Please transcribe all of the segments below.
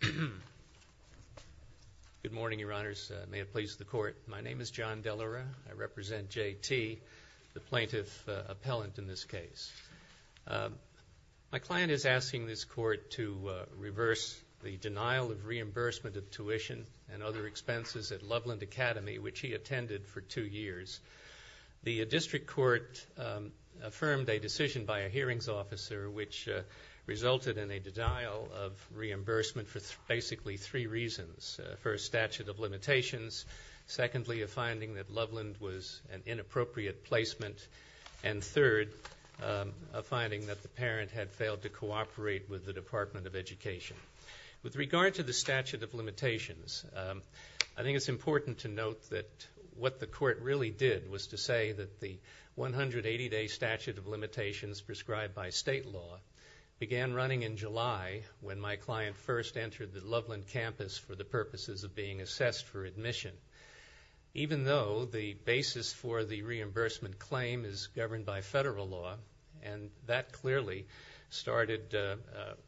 Good morning, Your Honors. May it please the Court, my name is John Delora. I represent J. T., the plaintiff appellant in this case. My client is asking this Court to reverse the denial of reimbursement of tuition and other expenses at Loveland Academy, which he attended for two years. The district court affirmed a decision by a hearings officer which resulted in a denial of reimbursement for basically three reasons. First, statute of limitations. Secondly, a finding that Loveland was an inappropriate placement. And third, a finding that the parent had failed to cooperate with the Department of Education. With regard to the statute of limitations, I think it's important to note that what the Court really did was to say that the 180-day statute of limitations prescribed by state law began running in July when my client first entered the Loveland campus for the purposes of being assessed for admission. Even though the basis for the reimbursement claim is governed by federal law, and that clearly started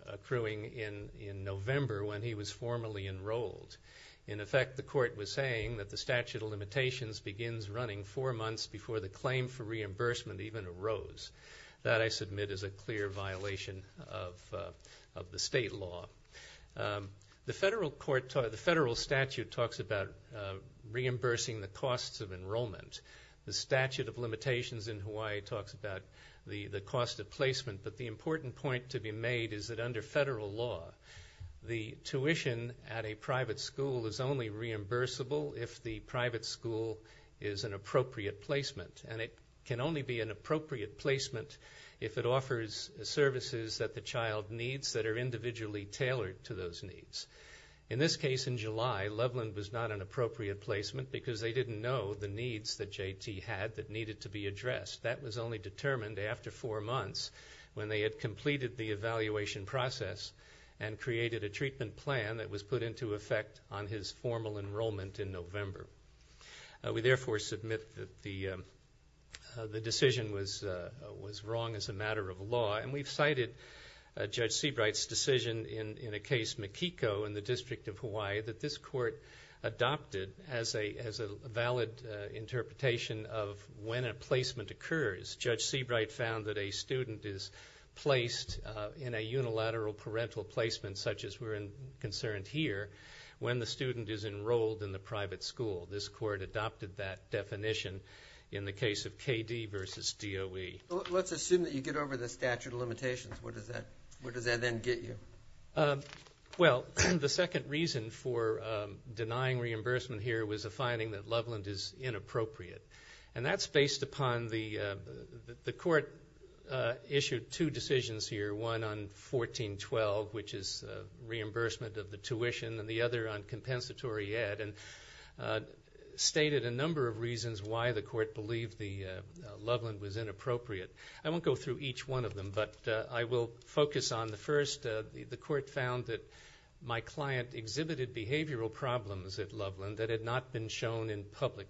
accruing in November when he was formally enrolled. In effect, the Court was saying that the statute of limitations begins running four months before the claim for reimbursement even arose. That, I submit, is a clear violation of the state law. The federal statute talks about reimbursing the costs of enrollment. The statute of limitations in Hawaii talks about the cost of placement. But the important point to be made is that the private school is only reimbursable if the private school is an appropriate placement. And it can only be an appropriate placement if it offers services that the child needs that are individually tailored to those needs. In this case, in July, Loveland was not an appropriate placement because they didn't know the needs that J.T. had that needed to be addressed. That was only determined after four months when they had completed the evaluation process and created a treatment plan that was put into effect on his formal enrollment in November. We therefore submit that the decision was wrong as a matter of law. And we've cited Judge Seabright's decision in a case, Makiko, in the District of Hawaii, that this Court adopted as a valid interpretation of when a placement occurs. Judge Seabright found that a student is placed in a unilateral parental placement, such as we're concerned here, when the student is enrolled in the private school. This Court adopted that definition in the case of KD versus DOE. Let's assume that you get over the statute of limitations. What does that then get you? Well, the second reason for denying reimbursement here was a finding that Loveland is inappropriate. And that's based upon the Court issued two decisions here, one on 1412, which is reimbursement of the tuition, and the other on compensatory ed, and stated a number of reasons why the Court believed Loveland was inappropriate. I won't go through each one of them, but I will focus on the first. The Court found that my client exhibited behavioral problems at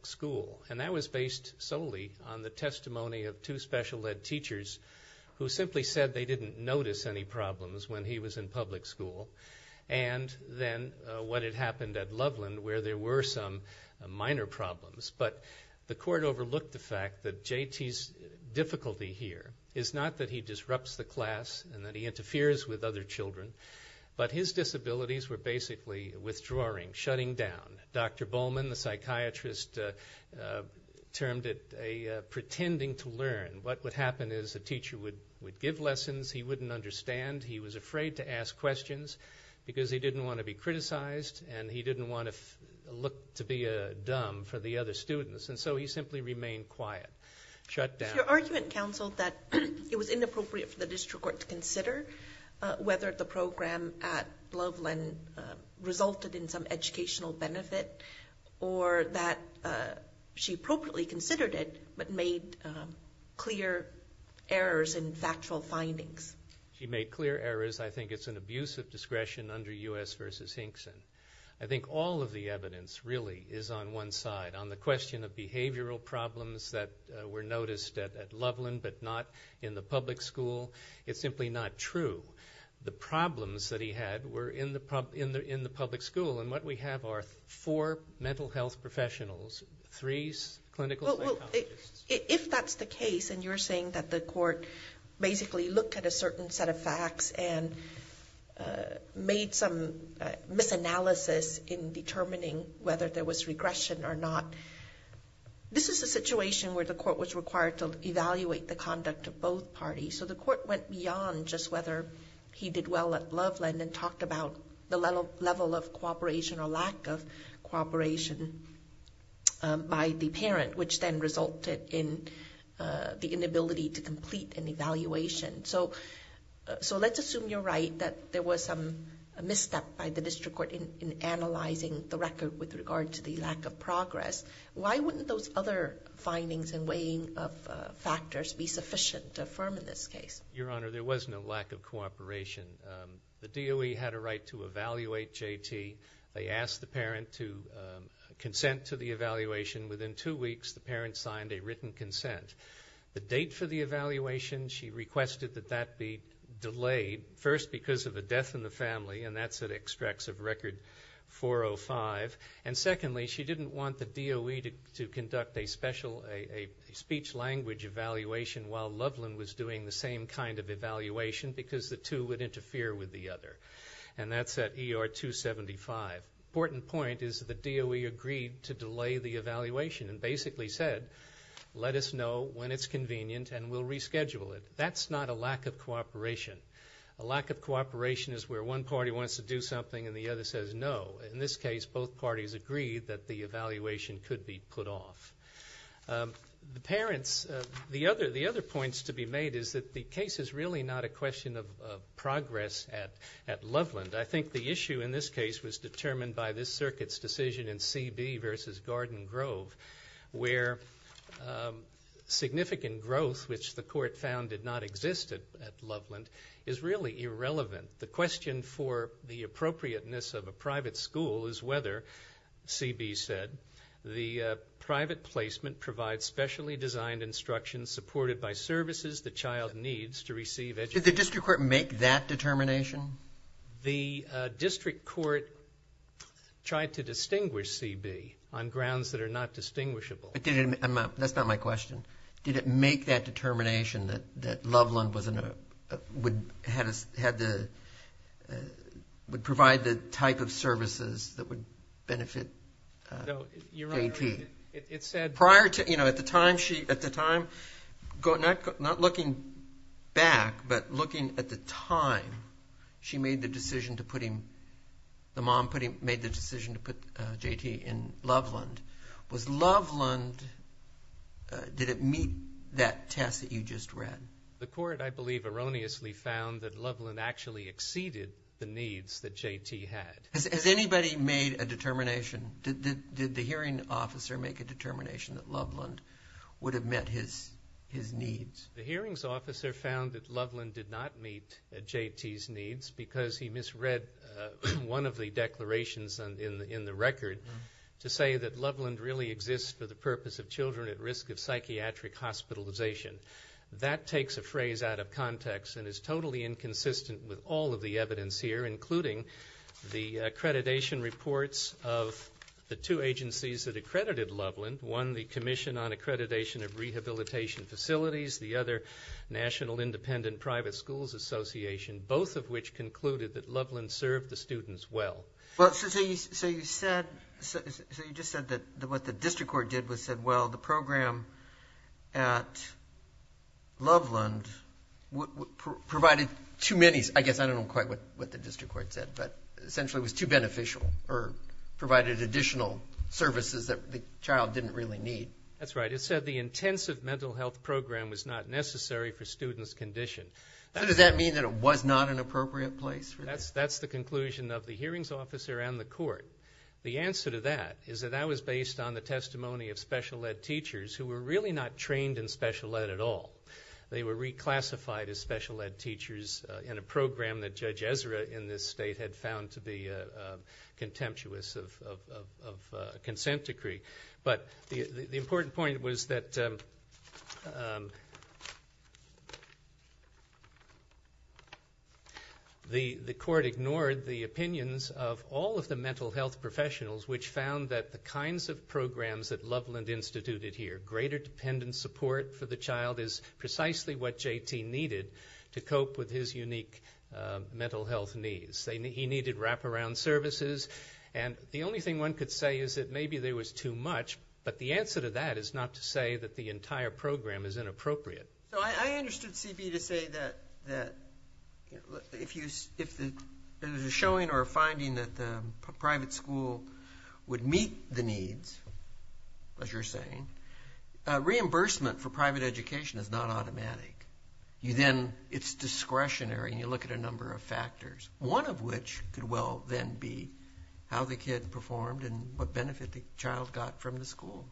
school, and that was based solely on the testimony of two special ed teachers who simply said they didn't notice any problems when he was in public school, and then what had happened at Loveland where there were some minor problems. But the Court overlooked the fact that JT's difficulty here is not that he disrupts the class and that he interferes with other children, but his disabilities were basically withdrawing, shutting down. Dr. Bowman, the psychiatrist, termed it a pretending to learn. What would happen is a teacher would give lessons he wouldn't understand, he was afraid to ask questions because he didn't want to be criticized, and he didn't want to look to be dumb for the other students, and so he simply remained quiet, shut down. Is your argument, counsel, that it was inappropriate for the District Court to consider whether the program at Loveland resulted in some educational benefit or that she appropriately considered it but made clear errors in factual findings? She made clear errors. I think it's an abuse of discretion under U.S. v. Hinkson. I think all of the evidence really is on one side. On the question of behavioral problems that were noticed at Loveland but not in the public school, it's simply not true. The problems that he had were in the public school, and what we have are four mental health professionals, three clinical psychologists. If that's the case, and you're saying that the Court basically looked at a certain set of facts and made some misanalysis in determining whether there was regression or not, this is a situation where the Court was required to evaluate the conduct of both parties. So the Court went beyond just whether he did well at Loveland and talked about the level of cooperation or lack of cooperation by the parent, which then resulted in the inability to complete an evaluation. So let's assume you're right that there was a misstep by the District Court in analyzing the record with regard to the lack of progress. Why wouldn't those other findings and weighing of factors be sufficient to affirm in this case? Your Honor, there was no lack of cooperation. The DOE had a right to evaluate J.T. They asked the parent to consent to the evaluation. Within two weeks, the parent signed a written consent. The date for the evaluation, she requested that that be delayed, first because of a death in the family, and that's at extracts of record 405. And secondly, she didn't want the DOE to conduct a speech-language evaluation while Loveland was doing the same kind of evaluation because the two would interfere with the other. And that's at ER 275. The important point is the DOE agreed to delay the evaluation and basically said, let us know when it's convenient and we'll reschedule it. That's not a lack of cooperation. A lack of cooperation is where one party wants to do something and the other says no. In this case, both parties agreed that the evaluation could be put off. The parents, the other points to be made is that the case is really not a question of progress at Loveland. I think the issue in this case was determined by this Circuit's decision in C.B. v. Garden Grove, where significant growth, which the Court found did not exist at Loveland, is really irrelevant. The question for the appropriateness of a private school is whether, C.B. said, the private placement provides specially designed instruction supported by services the child needs to receive education. Did the district court make that determination? The district court tried to distinguish C.B. on grounds that are not distinguishable. That's not my question. Did it make that determination that Loveland would provide the type of services that would benefit J.T.? At the time, not looking back, but looking at the time she made the decision to put him the mom made the decision to put J.T. in Loveland. Was Loveland, did it meet that test that you just read? The court, I believe, erroneously found that Loveland actually exceeded the needs that J.T. had. Has anybody made a determination? Did the hearing officer make a determination that Loveland would have met his needs? The hearings officer found that Loveland did not meet J.T.'s needs because he misread one of the declarations in the record to say that Loveland really exists for the purpose of children at risk of psychiatric hospitalization. That takes a phrase out of context and is totally inconsistent with all of the evidence here, including the accreditation reports of the two agencies that accredited Loveland, one the Commission on Accreditation of Rehabilitation Facilities, the other National Independent Private Schools Association, both of which concluded that Loveland served the students well. So you just said that what the district court did was said, well, the program at Loveland provided too many, I guess I don't know quite what the district court said, but essentially was too beneficial or provided additional services that the child didn't really need. That's right. It said the intensive mental health program was not necessary for students' condition. So does that mean that it was not an appropriate place? That's the conclusion of the hearings officer and the court. The answer to that is that that was based on the testimony of special ed teachers who were really not trained in special ed at all. They were reclassified as special ed teachers in a program that Judge Ezra in this state had found to be contemptuous of consent decree. But the important point was that the court ignored the opinions of all of the mental health professionals which found that the kinds of programs that Loveland instituted here, the greater dependent support for the child is precisely what J.T. needed to cope with his unique mental health needs. He needed wraparound services. And the only thing one could say is that maybe there was too much, but the answer to that is not to say that the entire program is inappropriate. So I understood C.B. to say that if there's a showing or a finding that the private school would meet the needs, as you're saying, reimbursement for private education is not automatic. It's discretionary, and you look at a number of factors, one of which could well then be how the kid performed and what benefit the child got from the school.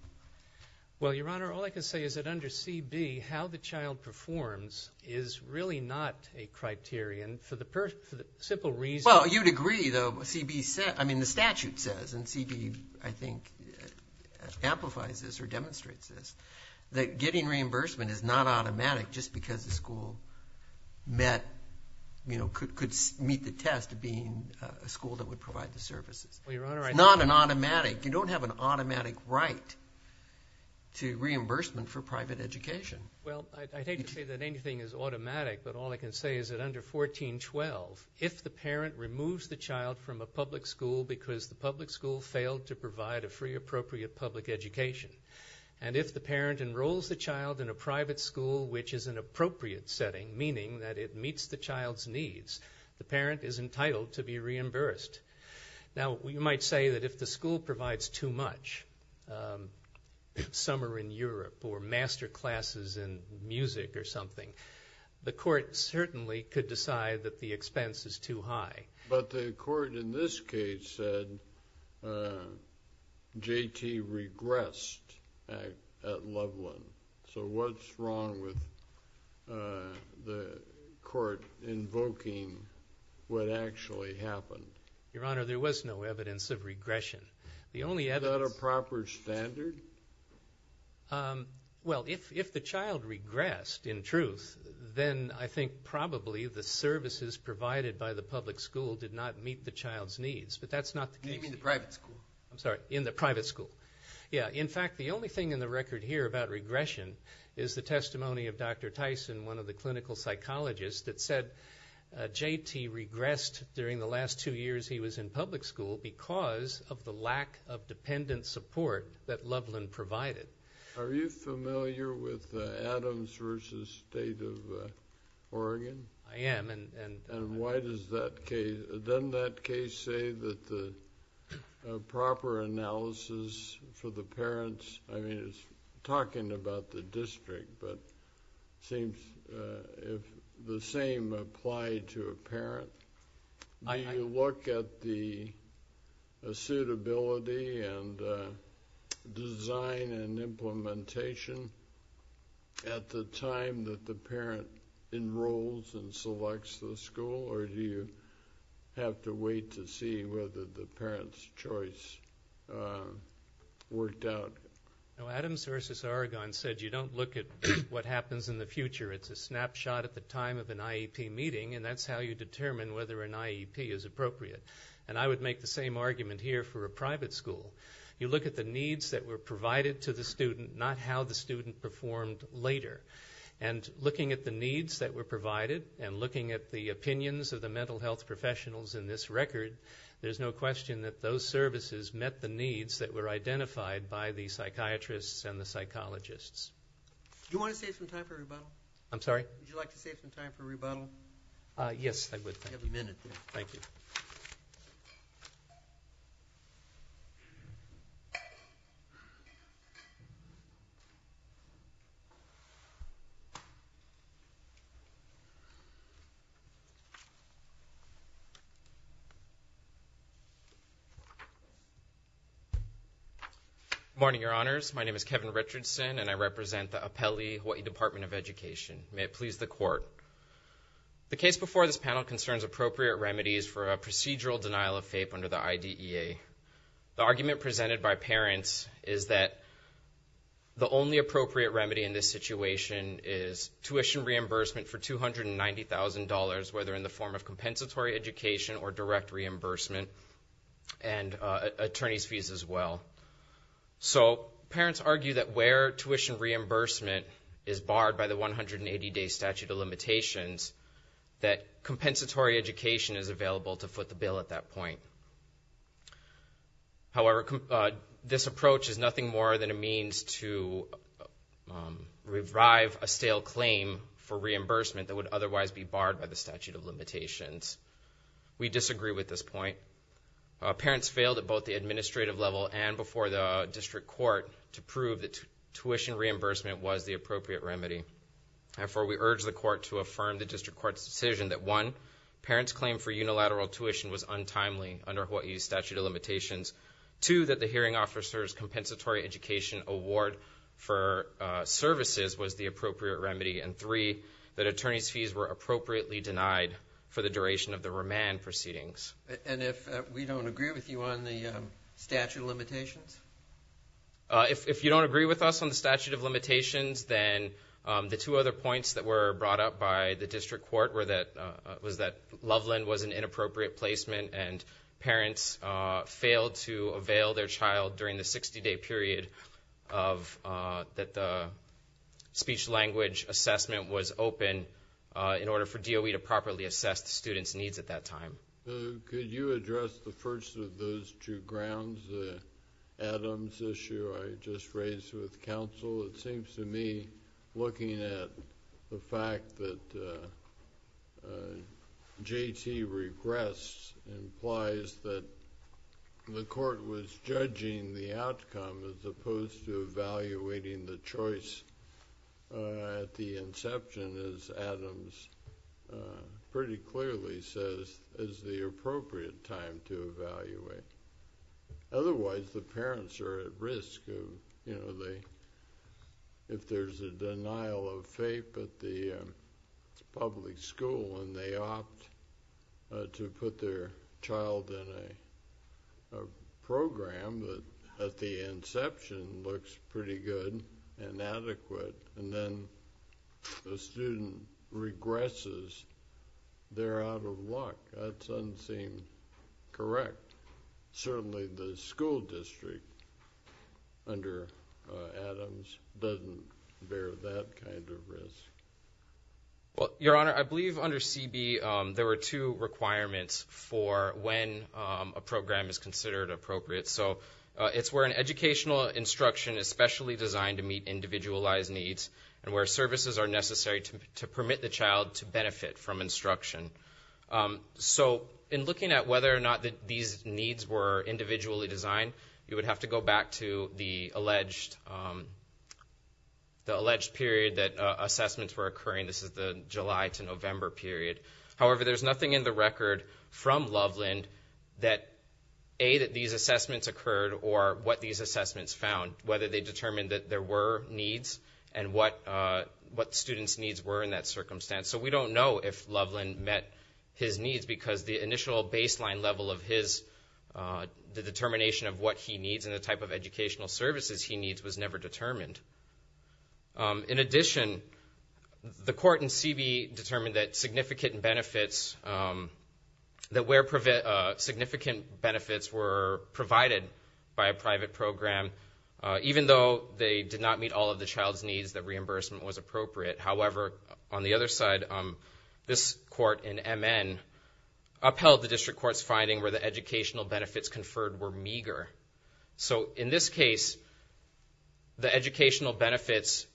Well, Your Honor, all I can say is that under C.B., how the child performs is really not a criterion for the simple reason. Well, you'd agree, though. C.B. said, I mean, the statute says, and C.B., I think, amplifies this or demonstrates this, that getting reimbursement is not automatic just because the school met, you know, could meet the test of being a school that would provide the services. Well, Your Honor, I think. It's not an automatic. You don't have an automatic right to reimbursement for private education. Well, I hate to say that anything is automatic, but all I can say is that under 1412, if the parent removes the child from a public school because the public school failed to provide a free, appropriate public education, and if the parent enrolls the child in a private school which is an appropriate setting, meaning that it meets the child's needs, the parent is entitled to be reimbursed. Now, you might say that if the school provides too much, summer in Europe or master classes in music or something, the court certainly could decide that the expense is too high. But the court in this case said J.T. regressed at Loveland. So what's wrong with the court invoking what actually happened? Your Honor, there was no evidence of regression. Is that a proper standard? Well, if the child regressed in truth, then I think probably the services provided by the public school did not meet the child's needs. But that's not the case. You mean the private school? I'm sorry, in the private school. Yeah. In fact, the only thing in the record here about regression is the testimony of Dr. Tyson, one of the clinical psychologists, that said J.T. regressed during the last two years he was in public school because of the lack of dependent support that Loveland provided. Are you familiar with Adams v. State of Oregon? I am. And why does that case, doesn't that case say that the proper analysis for the parents, I mean it's talking about the district, but it seems the same applied to a parent. Do you look at the suitability and design and implementation at the time that the parent enrolls and selects the school, or do you have to wait to see whether the parent's choice worked out? Adams v. Oregon said you don't look at what happens in the future. It's a snapshot at the time of an IEP meeting, and that's how you determine whether an IEP is appropriate. And I would make the same argument here for a private school. You look at the needs that were provided to the student, not how the student performed later. And looking at the needs that were provided and looking at the opinions of the mental health professionals in this record, there's no question that those services met the needs that were identified by the psychiatrists and the psychologists. Do you want to save some time for rebuttal? I'm sorry? Would you like to save some time for rebuttal? Yes, I would. You have a minute there. Thank you. Good morning, Your Honors. My name is Kevin Richardson, and I represent the Apele Hawaii Department of Education. May it please the Court. The case before this panel concerns appropriate remedies for a procedural denial of FAPE under the IDEA. The argument presented by parents is that the only appropriate remedy in this situation is tuition reimbursement for $290,000, whether in the form of compensatory education or direct reimbursement, and attorney's fees as well. So parents argue that where tuition reimbursement is barred by the 180-day statute of limitations, that compensatory education is available to foot the bill at that point. However, this approach is nothing more than a means to revive a stale claim for reimbursement that would otherwise be barred by the statute of limitations. We disagree with this point. Parents failed at both the administrative level and before the district court to prove that tuition reimbursement was the appropriate remedy. Therefore, we urge the court to affirm the district court's decision that, one, parents' claim for unilateral tuition was untimely under Hawaii's statute of limitations, two, that the hearing officer's compensatory education award for services was the appropriate remedy, and three, that attorney's fees were appropriately denied for the duration of the remand proceedings. And if we don't agree with you on the statute of limitations? If you don't agree with us on the statute of limitations, then the two other points that were brought up by the district court was that Loveland was an inappropriate placement and parents failed to avail their child during the 60-day period that the speech-language assessment was open in order for DOE to properly assess the students' needs at that time. Could you address the first of those two grounds, the Adams issue I just raised with counsel? It seems to me looking at the fact that J.T. regressed implies that the court was judging the outcome as opposed to evaluating the choice at the inception, as Adams pretty clearly says, is the appropriate time to evaluate. Otherwise, the parents are at risk of, you know, if there's a denial of FAPE at the public school and they opt to put their child in a program that at the inception looks pretty good and adequate, and then the student regresses, they're out of luck. That doesn't seem correct. Certainly the school district under Adams doesn't bear that kind of risk. Well, Your Honor, I believe under CB there were two requirements for when a program is considered appropriate. So it's where an educational instruction is specially designed to meet individualized needs and where services are necessary to permit the child to benefit from instruction. So in looking at whether or not these needs were individually designed, you would have to go back to the alleged period that assessments were occurring. This is the July to November period. However, there's nothing in the record from Loveland that, A, that these assessments occurred or what these assessments found, whether they determined that there were needs and what students' needs were in that circumstance. So we don't know if Loveland met his needs because the initial baseline level of his determination of what he needs and the type of educational services he needs was never determined. In addition, the court in CB determined that significant benefits were provided by a private program, even though they did not meet all of the child's needs, that reimbursement was appropriate. However, on the other side, this court in MN upheld the district court's finding where the educational benefits conferred were meager. So in this case, the educational benefits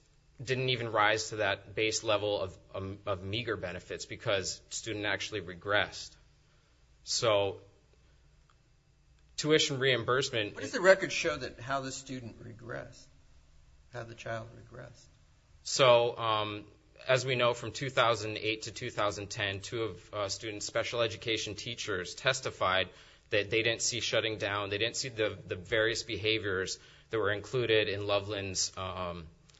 didn't even rise to that base level of meager benefits because the student actually regressed. So tuition reimbursement... What does the record show how the student regressed, how the child regressed? So as we know, from 2008 to 2010, two of students' special education teachers testified that they didn't see shutting down, they didn't see the various behaviors that were included in Loveland's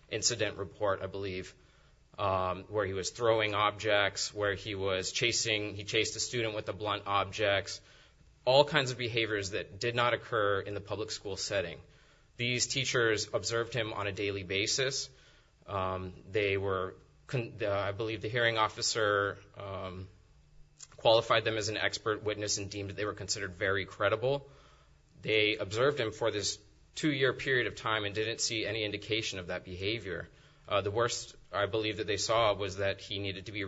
incident report, I believe, where he was throwing objects, where he chased a student with a blunt object, all kinds of behaviors that did not occur in the public school setting. These teachers observed him on a daily basis. They were... I believe the hearing officer qualified them as an expert witness and deemed that they were considered very credible. They observed him for this two-year period of time and didn't see any indication of that behavior. The worst, I believe, that they saw was that he needed to be...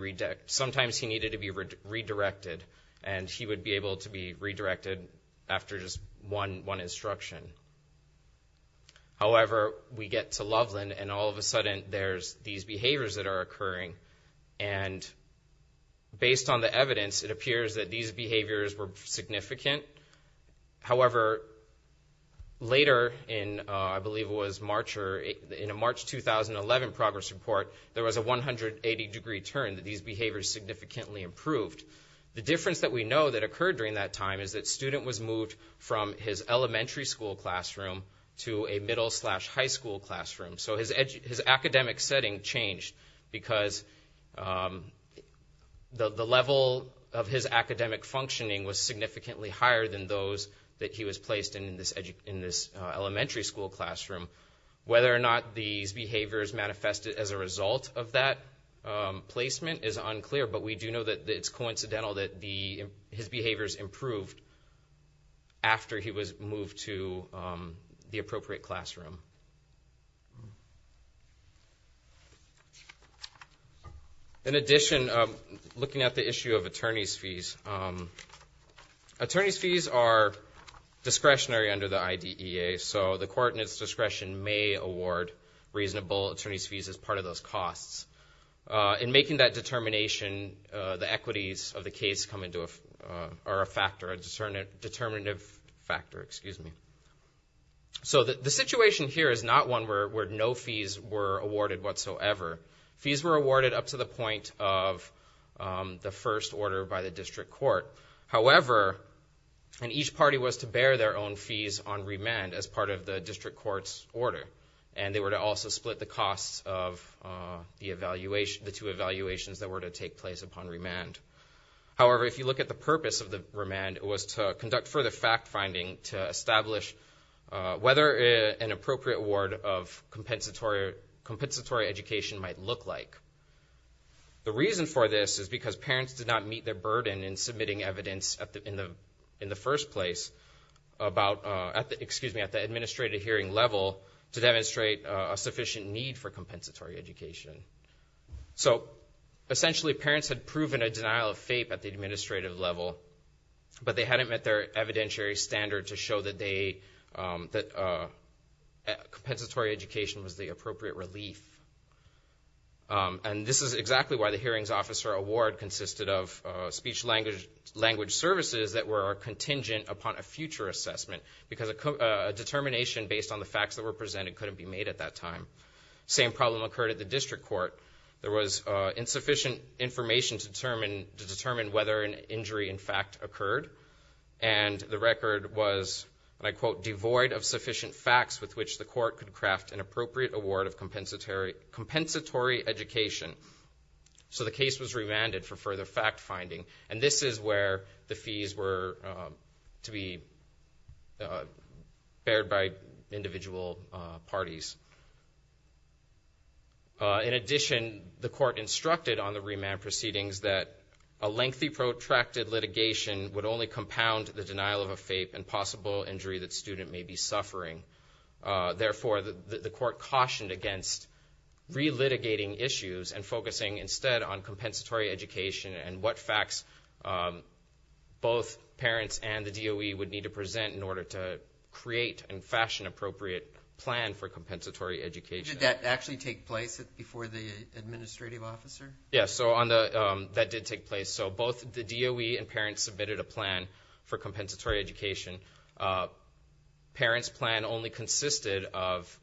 However, we get to Loveland, and all of a sudden there's these behaviors that are occurring. And based on the evidence, it appears that these behaviors were significant. However, later in, I believe it was March or... In a March 2011 progress report, there was a 180-degree turn, that these behaviors significantly improved. The difference that we know that occurred during that time is that the student was moved from his elementary school classroom to a middle-slash-high school classroom. So his academic setting changed because the level of his academic functioning was significantly higher than those that he was placed in this elementary school classroom. Whether or not these behaviors manifested as a result of that placement is unclear, but we do know that it's coincidental that his behaviors improved after he was moved to the appropriate classroom. In addition, looking at the issue of attorney's fees, attorney's fees are discretionary under the IDEA, so the court in its discretion may award reasonable attorney's fees as part of those costs. In making that determination, the equities of the case are a factor, a determinative factor, excuse me. So the situation here is not one where no fees were awarded whatsoever. Fees were awarded up to the point of the first order by the district court. However, each party was to bear their own fees on remand as part of the district court's order, and they were to also split the costs of the two evaluations that were to take place upon remand. However, if you look at the purpose of the remand, it was to conduct further fact-finding to establish whether an appropriate award of compensatory education might look like. The reason for this is because parents did not meet their burden in submitting evidence in the first place about, excuse me, at the administrative hearing level to demonstrate a sufficient need for compensatory education. So essentially parents had proven a denial of FAPE at the administrative level, but they hadn't met their evidentiary standard to show that they, that compensatory education was the appropriate relief. And this is exactly why the hearings officer award consisted of speech-language services that were contingent upon a future assessment, because a determination based on the facts that were presented couldn't be made at that time. Same problem occurred at the district court. There was insufficient information to determine whether an injury in fact occurred, and the record was, and I quote, devoid of sufficient facts with which the court could craft an appropriate award of compensatory education. So the case was remanded for further fact-finding, and this is where the fees were to be bared by individual parties. In addition, the court instructed on the remand proceedings that a lengthy protracted litigation would only compound the denial of a FAPE and possible injury that student may be suffering. Therefore, the court cautioned against relitigating issues and focusing instead on compensatory education and what facts both parents and the DOE would need to present in order to create and fashion an appropriate plan for compensatory education. Did that actually take place before the administrative officer? Yes, that did take place. So both the DOE and parents submitted a plan for compensatory education. Parents' plan only consisted of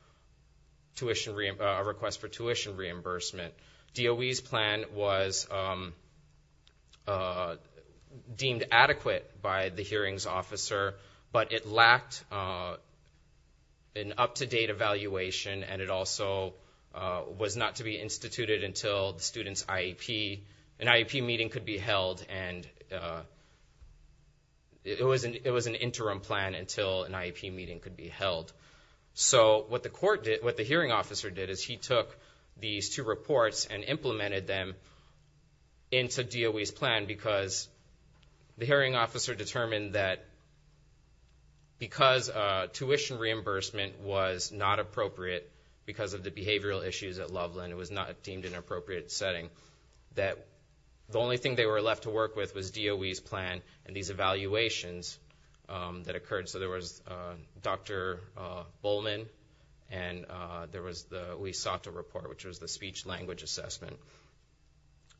a request for tuition reimbursement. DOE's plan was deemed adequate by the hearings officer, but it lacked an up-to-date evaluation, and it also was not to be instituted until the student's IEP. An IEP meeting could be held, and it was an interim plan until an IEP meeting could be held. So what the hearing officer did is he took these two reports and implemented them into DOE's plan because the hearing officer determined that because tuition reimbursement was not appropriate because of the behavioral issues at Loveland, it was not deemed an appropriate setting, that the only thing they were left to work with was DOE's plan and these evaluations that occurred. So there was Dr. Bowman and there was the Uesata report, which was the speech-language assessment.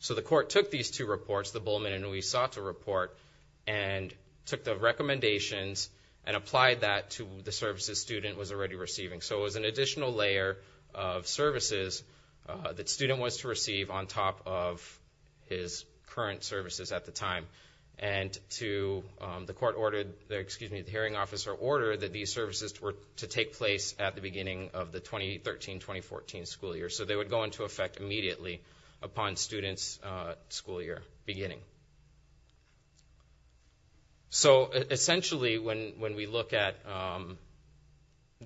So the court took these two reports, the Bowman and Uesata report, and took the recommendations and applied that to the services student was already receiving. So it was an additional layer of services that student was to receive on top of his current services at the time. And the hearing officer ordered that these services were to take place at the beginning of the 2013-2014 school year. So they would go into effect immediately upon student's school year beginning. So essentially when we look at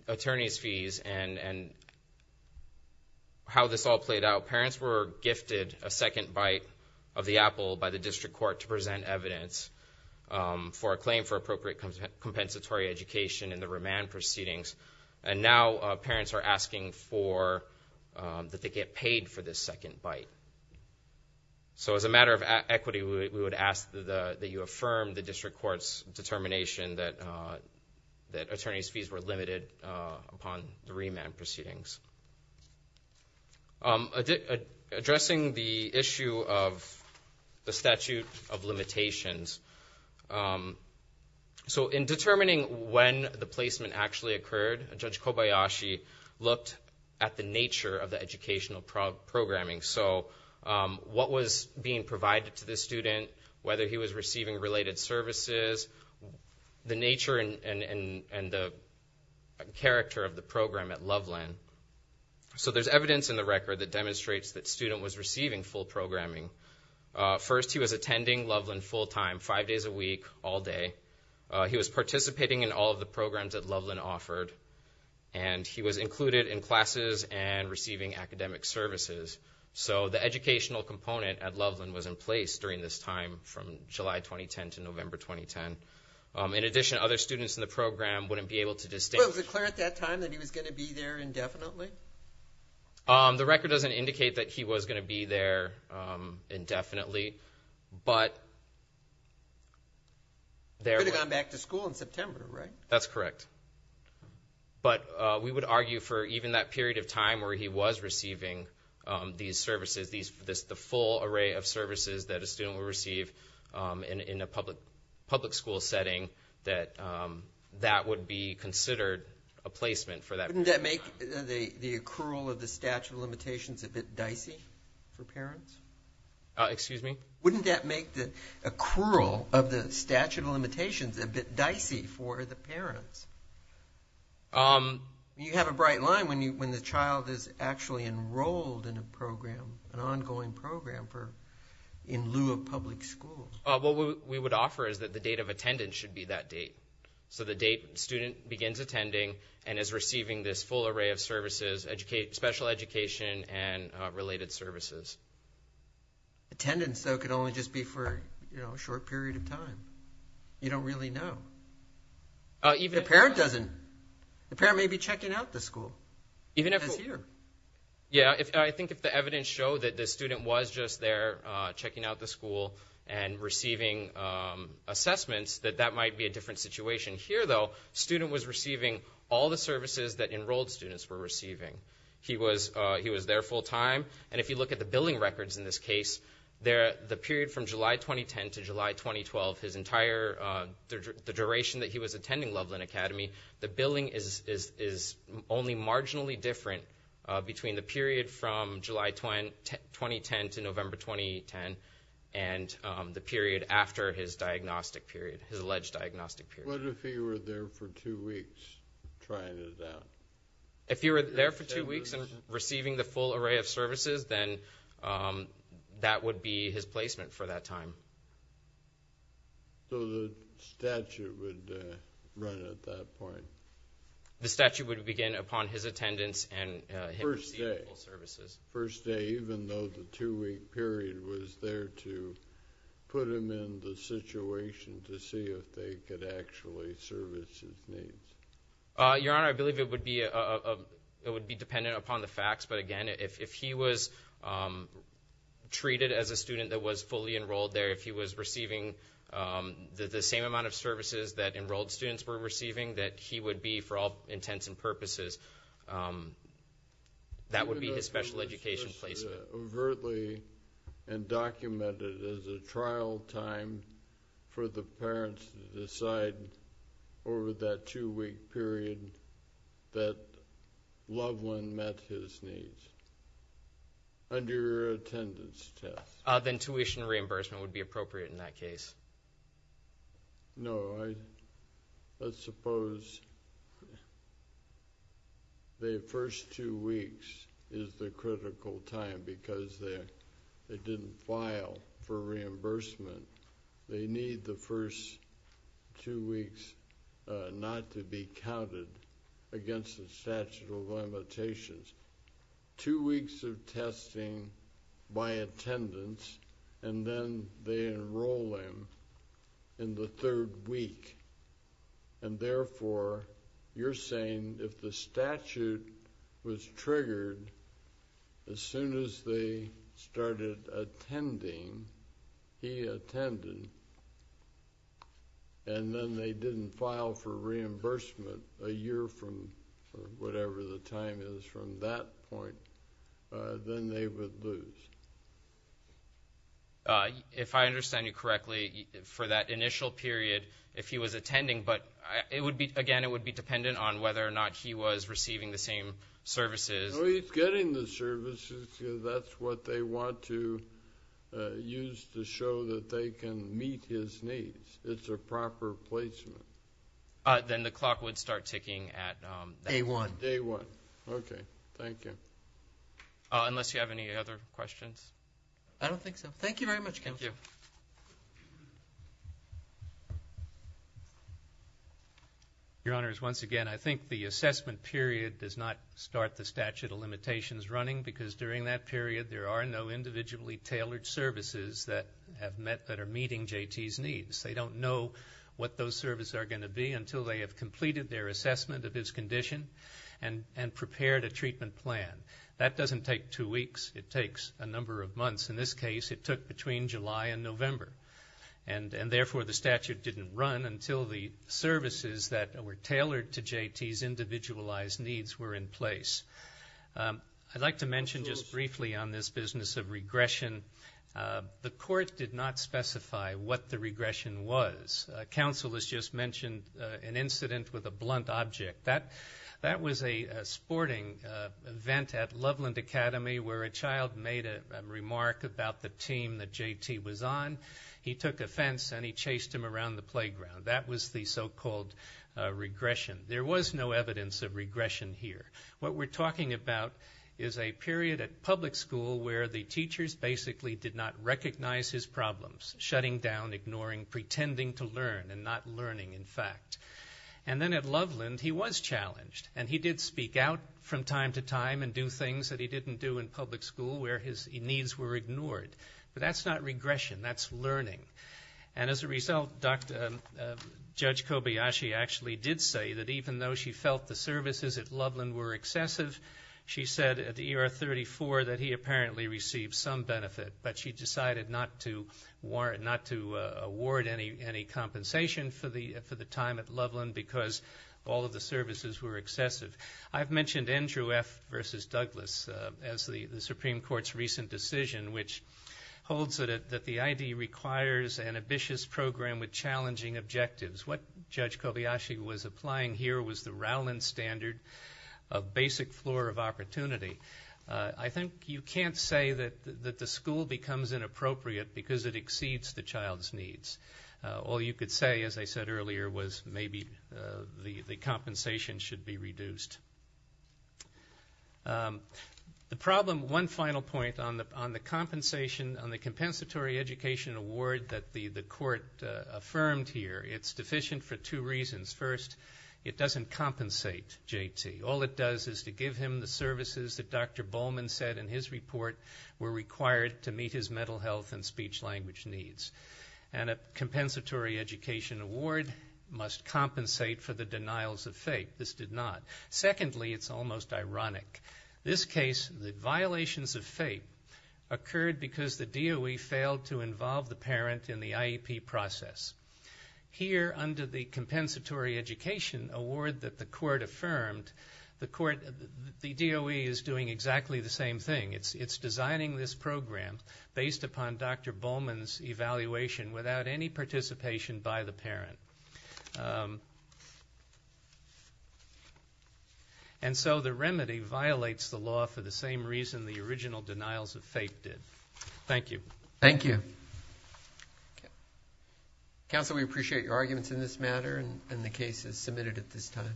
attorney's fees and how this all played out, parents were gifted a second bite of the apple by the district court to present evidence for a claim for appropriate compensatory education in the remand proceedings. And now parents are asking that they get paid for this second bite. So as a matter of equity, we would ask that you affirm the district court's determination that attorney's fees were limited upon the remand proceedings. Addressing the issue of the statute of limitations. So in determining when the placement actually occurred, Judge Kobayashi looked at the nature of the educational programming. So what was being provided to the student, whether he was receiving related services, the nature and the character of the program at Loveland. So there's evidence in the record that demonstrates that student was receiving full programming. First, he was attending Loveland full time, five days a week, all day. He was participating in all of the programs that Loveland offered. And he was included in classes and receiving academic services. So the educational component at Loveland was in place during this time from July 2010 to November 2010. In addition, other students in the program wouldn't be able to distinguish. Well, was it clear at that time that he was going to be there indefinitely? The record doesn't indicate that he was going to be there indefinitely, but there was. He would have gone back to school in September, right? That's correct. But we would argue for even that period of time where he was receiving these services, the full array of services that a student would receive in a public school setting, that that would be considered a placement for that period of time. Wouldn't that make the accrual of the statute of limitations a bit dicey for parents? Excuse me? Wouldn't that make the accrual of the statute of limitations a bit dicey for the parents? You have a bright line when the child is actually enrolled in a program, an ongoing program in lieu of public school. What we would offer is that the date of attendance should be that date. So the date the student begins attending and is receiving this full array of services, special education and related services. Attendance, though, could only just be for a short period of time. You don't really know. Even a parent doesn't. The parent may be checking out the school. Yeah, I think if the evidence showed that the student was just there checking out the school and receiving assessments, that that might be a different situation. Here, though, the student was receiving all the services that enrolled students were receiving. He was there full time. And if you look at the billing records in this case, the period from July 2010 to July 2012, the duration that he was attending Loveland Academy, the billing is only marginally different between the period from July 2010 to November 2010 and the period after his alleged diagnostic period. What if he were there for two weeks trying it out? If he were there for two weeks and receiving the full array of services, then that would be his placement for that time. So the statute would run at that point. The statute would begin upon his attendance and his receivable services. First day, even though the two-week period was there to put him in the situation to see if they could actually service his needs. Your Honor, I believe it would be dependent upon the facts. But, again, if he was treated as a student that was fully enrolled there, if he was receiving the same amount of services that enrolled students were receiving, that he would be, for all intents and purposes, that would be his special education placement. If it were overtly and documented as a trial time for the parents to decide over that two-week period that Loveland met his needs, under your attendance test. Then tuition reimbursement would be appropriate in that case. No, I suppose the first two weeks is the critical time because they didn't file for reimbursement. They need the first two weeks not to be counted against the statute of limitations. Two weeks of testing by attendance, and then they enroll him in the third week. And, therefore, you're saying if the statute was triggered as soon as they started attending, he attended, and then they didn't file for reimbursement a year from whatever the time is from that point, then they would lose. If I understand you correctly, for that initial period, if he was attending, but it would be, again, it would be dependent on whether or not he was receiving the same services. No, he's getting the services because that's what they want to use to show that they can meet his needs. It's a proper placement. Then the clock would start ticking at that point. Day one. Day one. Okay. Thank you. Unless you have any other questions. I don't think so. Thank you very much, counsel. Thank you. Your Honors, once again, I think the assessment period does not start the statute of limitations running, because during that period there are no individually tailored services that are meeting JT's needs. They don't know what those services are going to be until they have completed their assessment of his condition and prepared a treatment plan. That doesn't take two weeks. It takes a number of months. In this case, it took between July and November. Therefore, the statute didn't run until the services that were tailored to JT's individualized needs were in place. I'd like to mention just briefly on this business of regression. The court did not specify what the regression was. Counsel has just mentioned an incident with a blunt object. That was a sporting event at Loveland Academy where a child made a remark about the team that JT was on. He took offense and he chased him around the playground. That was the so-called regression. There was no evidence of regression here. What we're talking about is a period at public school where the teachers basically did not recognize his problems, shutting down, ignoring, pretending to learn and not learning, in fact. And then at Loveland, he was challenged. And he did speak out from time to time and do things that he didn't do in public school where his needs were ignored. But that's not regression. That's learning. And as a result, Judge Kobayashi actually did say that even though she felt the services at Loveland were excessive, she said at the ER 34 that he apparently received some benefit, but she decided not to award any compensation for the time at Loveland because all of the services were excessive. I've mentioned Andrew F. versus Douglas as the Supreme Court's recent decision, which holds that the ID requires an ambitious program with challenging objectives. What Judge Kobayashi was applying here was the Rowland standard of basic floor of opportunity. I think you can't say that the school becomes inappropriate because it exceeds the child's needs. All you could say, as I said earlier, was maybe the compensation should be reduced. The problem, one final point on the compensation, on the compensatory education award that the court affirmed here, it's deficient for two reasons. First, it doesn't compensate J.T. All it does is to give him the services that Dr. Bowman said in his report were required to meet his mental health and speech language needs. And a compensatory education award must compensate for the denials of FAPE. This did not. Secondly, it's almost ironic. This case, the violations of FAPE occurred because the DOE failed to involve the parent in the IEP process. Here under the compensatory education award that the court affirmed, the DOE is doing exactly the same thing. It's designing this program based upon Dr. Bowman's evaluation without any participation by the parent. And so the remedy violates the law for the same reason the original denials of FAPE did. Thank you. Thank you. Counsel, we appreciate your arguments in this matter and the cases submitted at this time.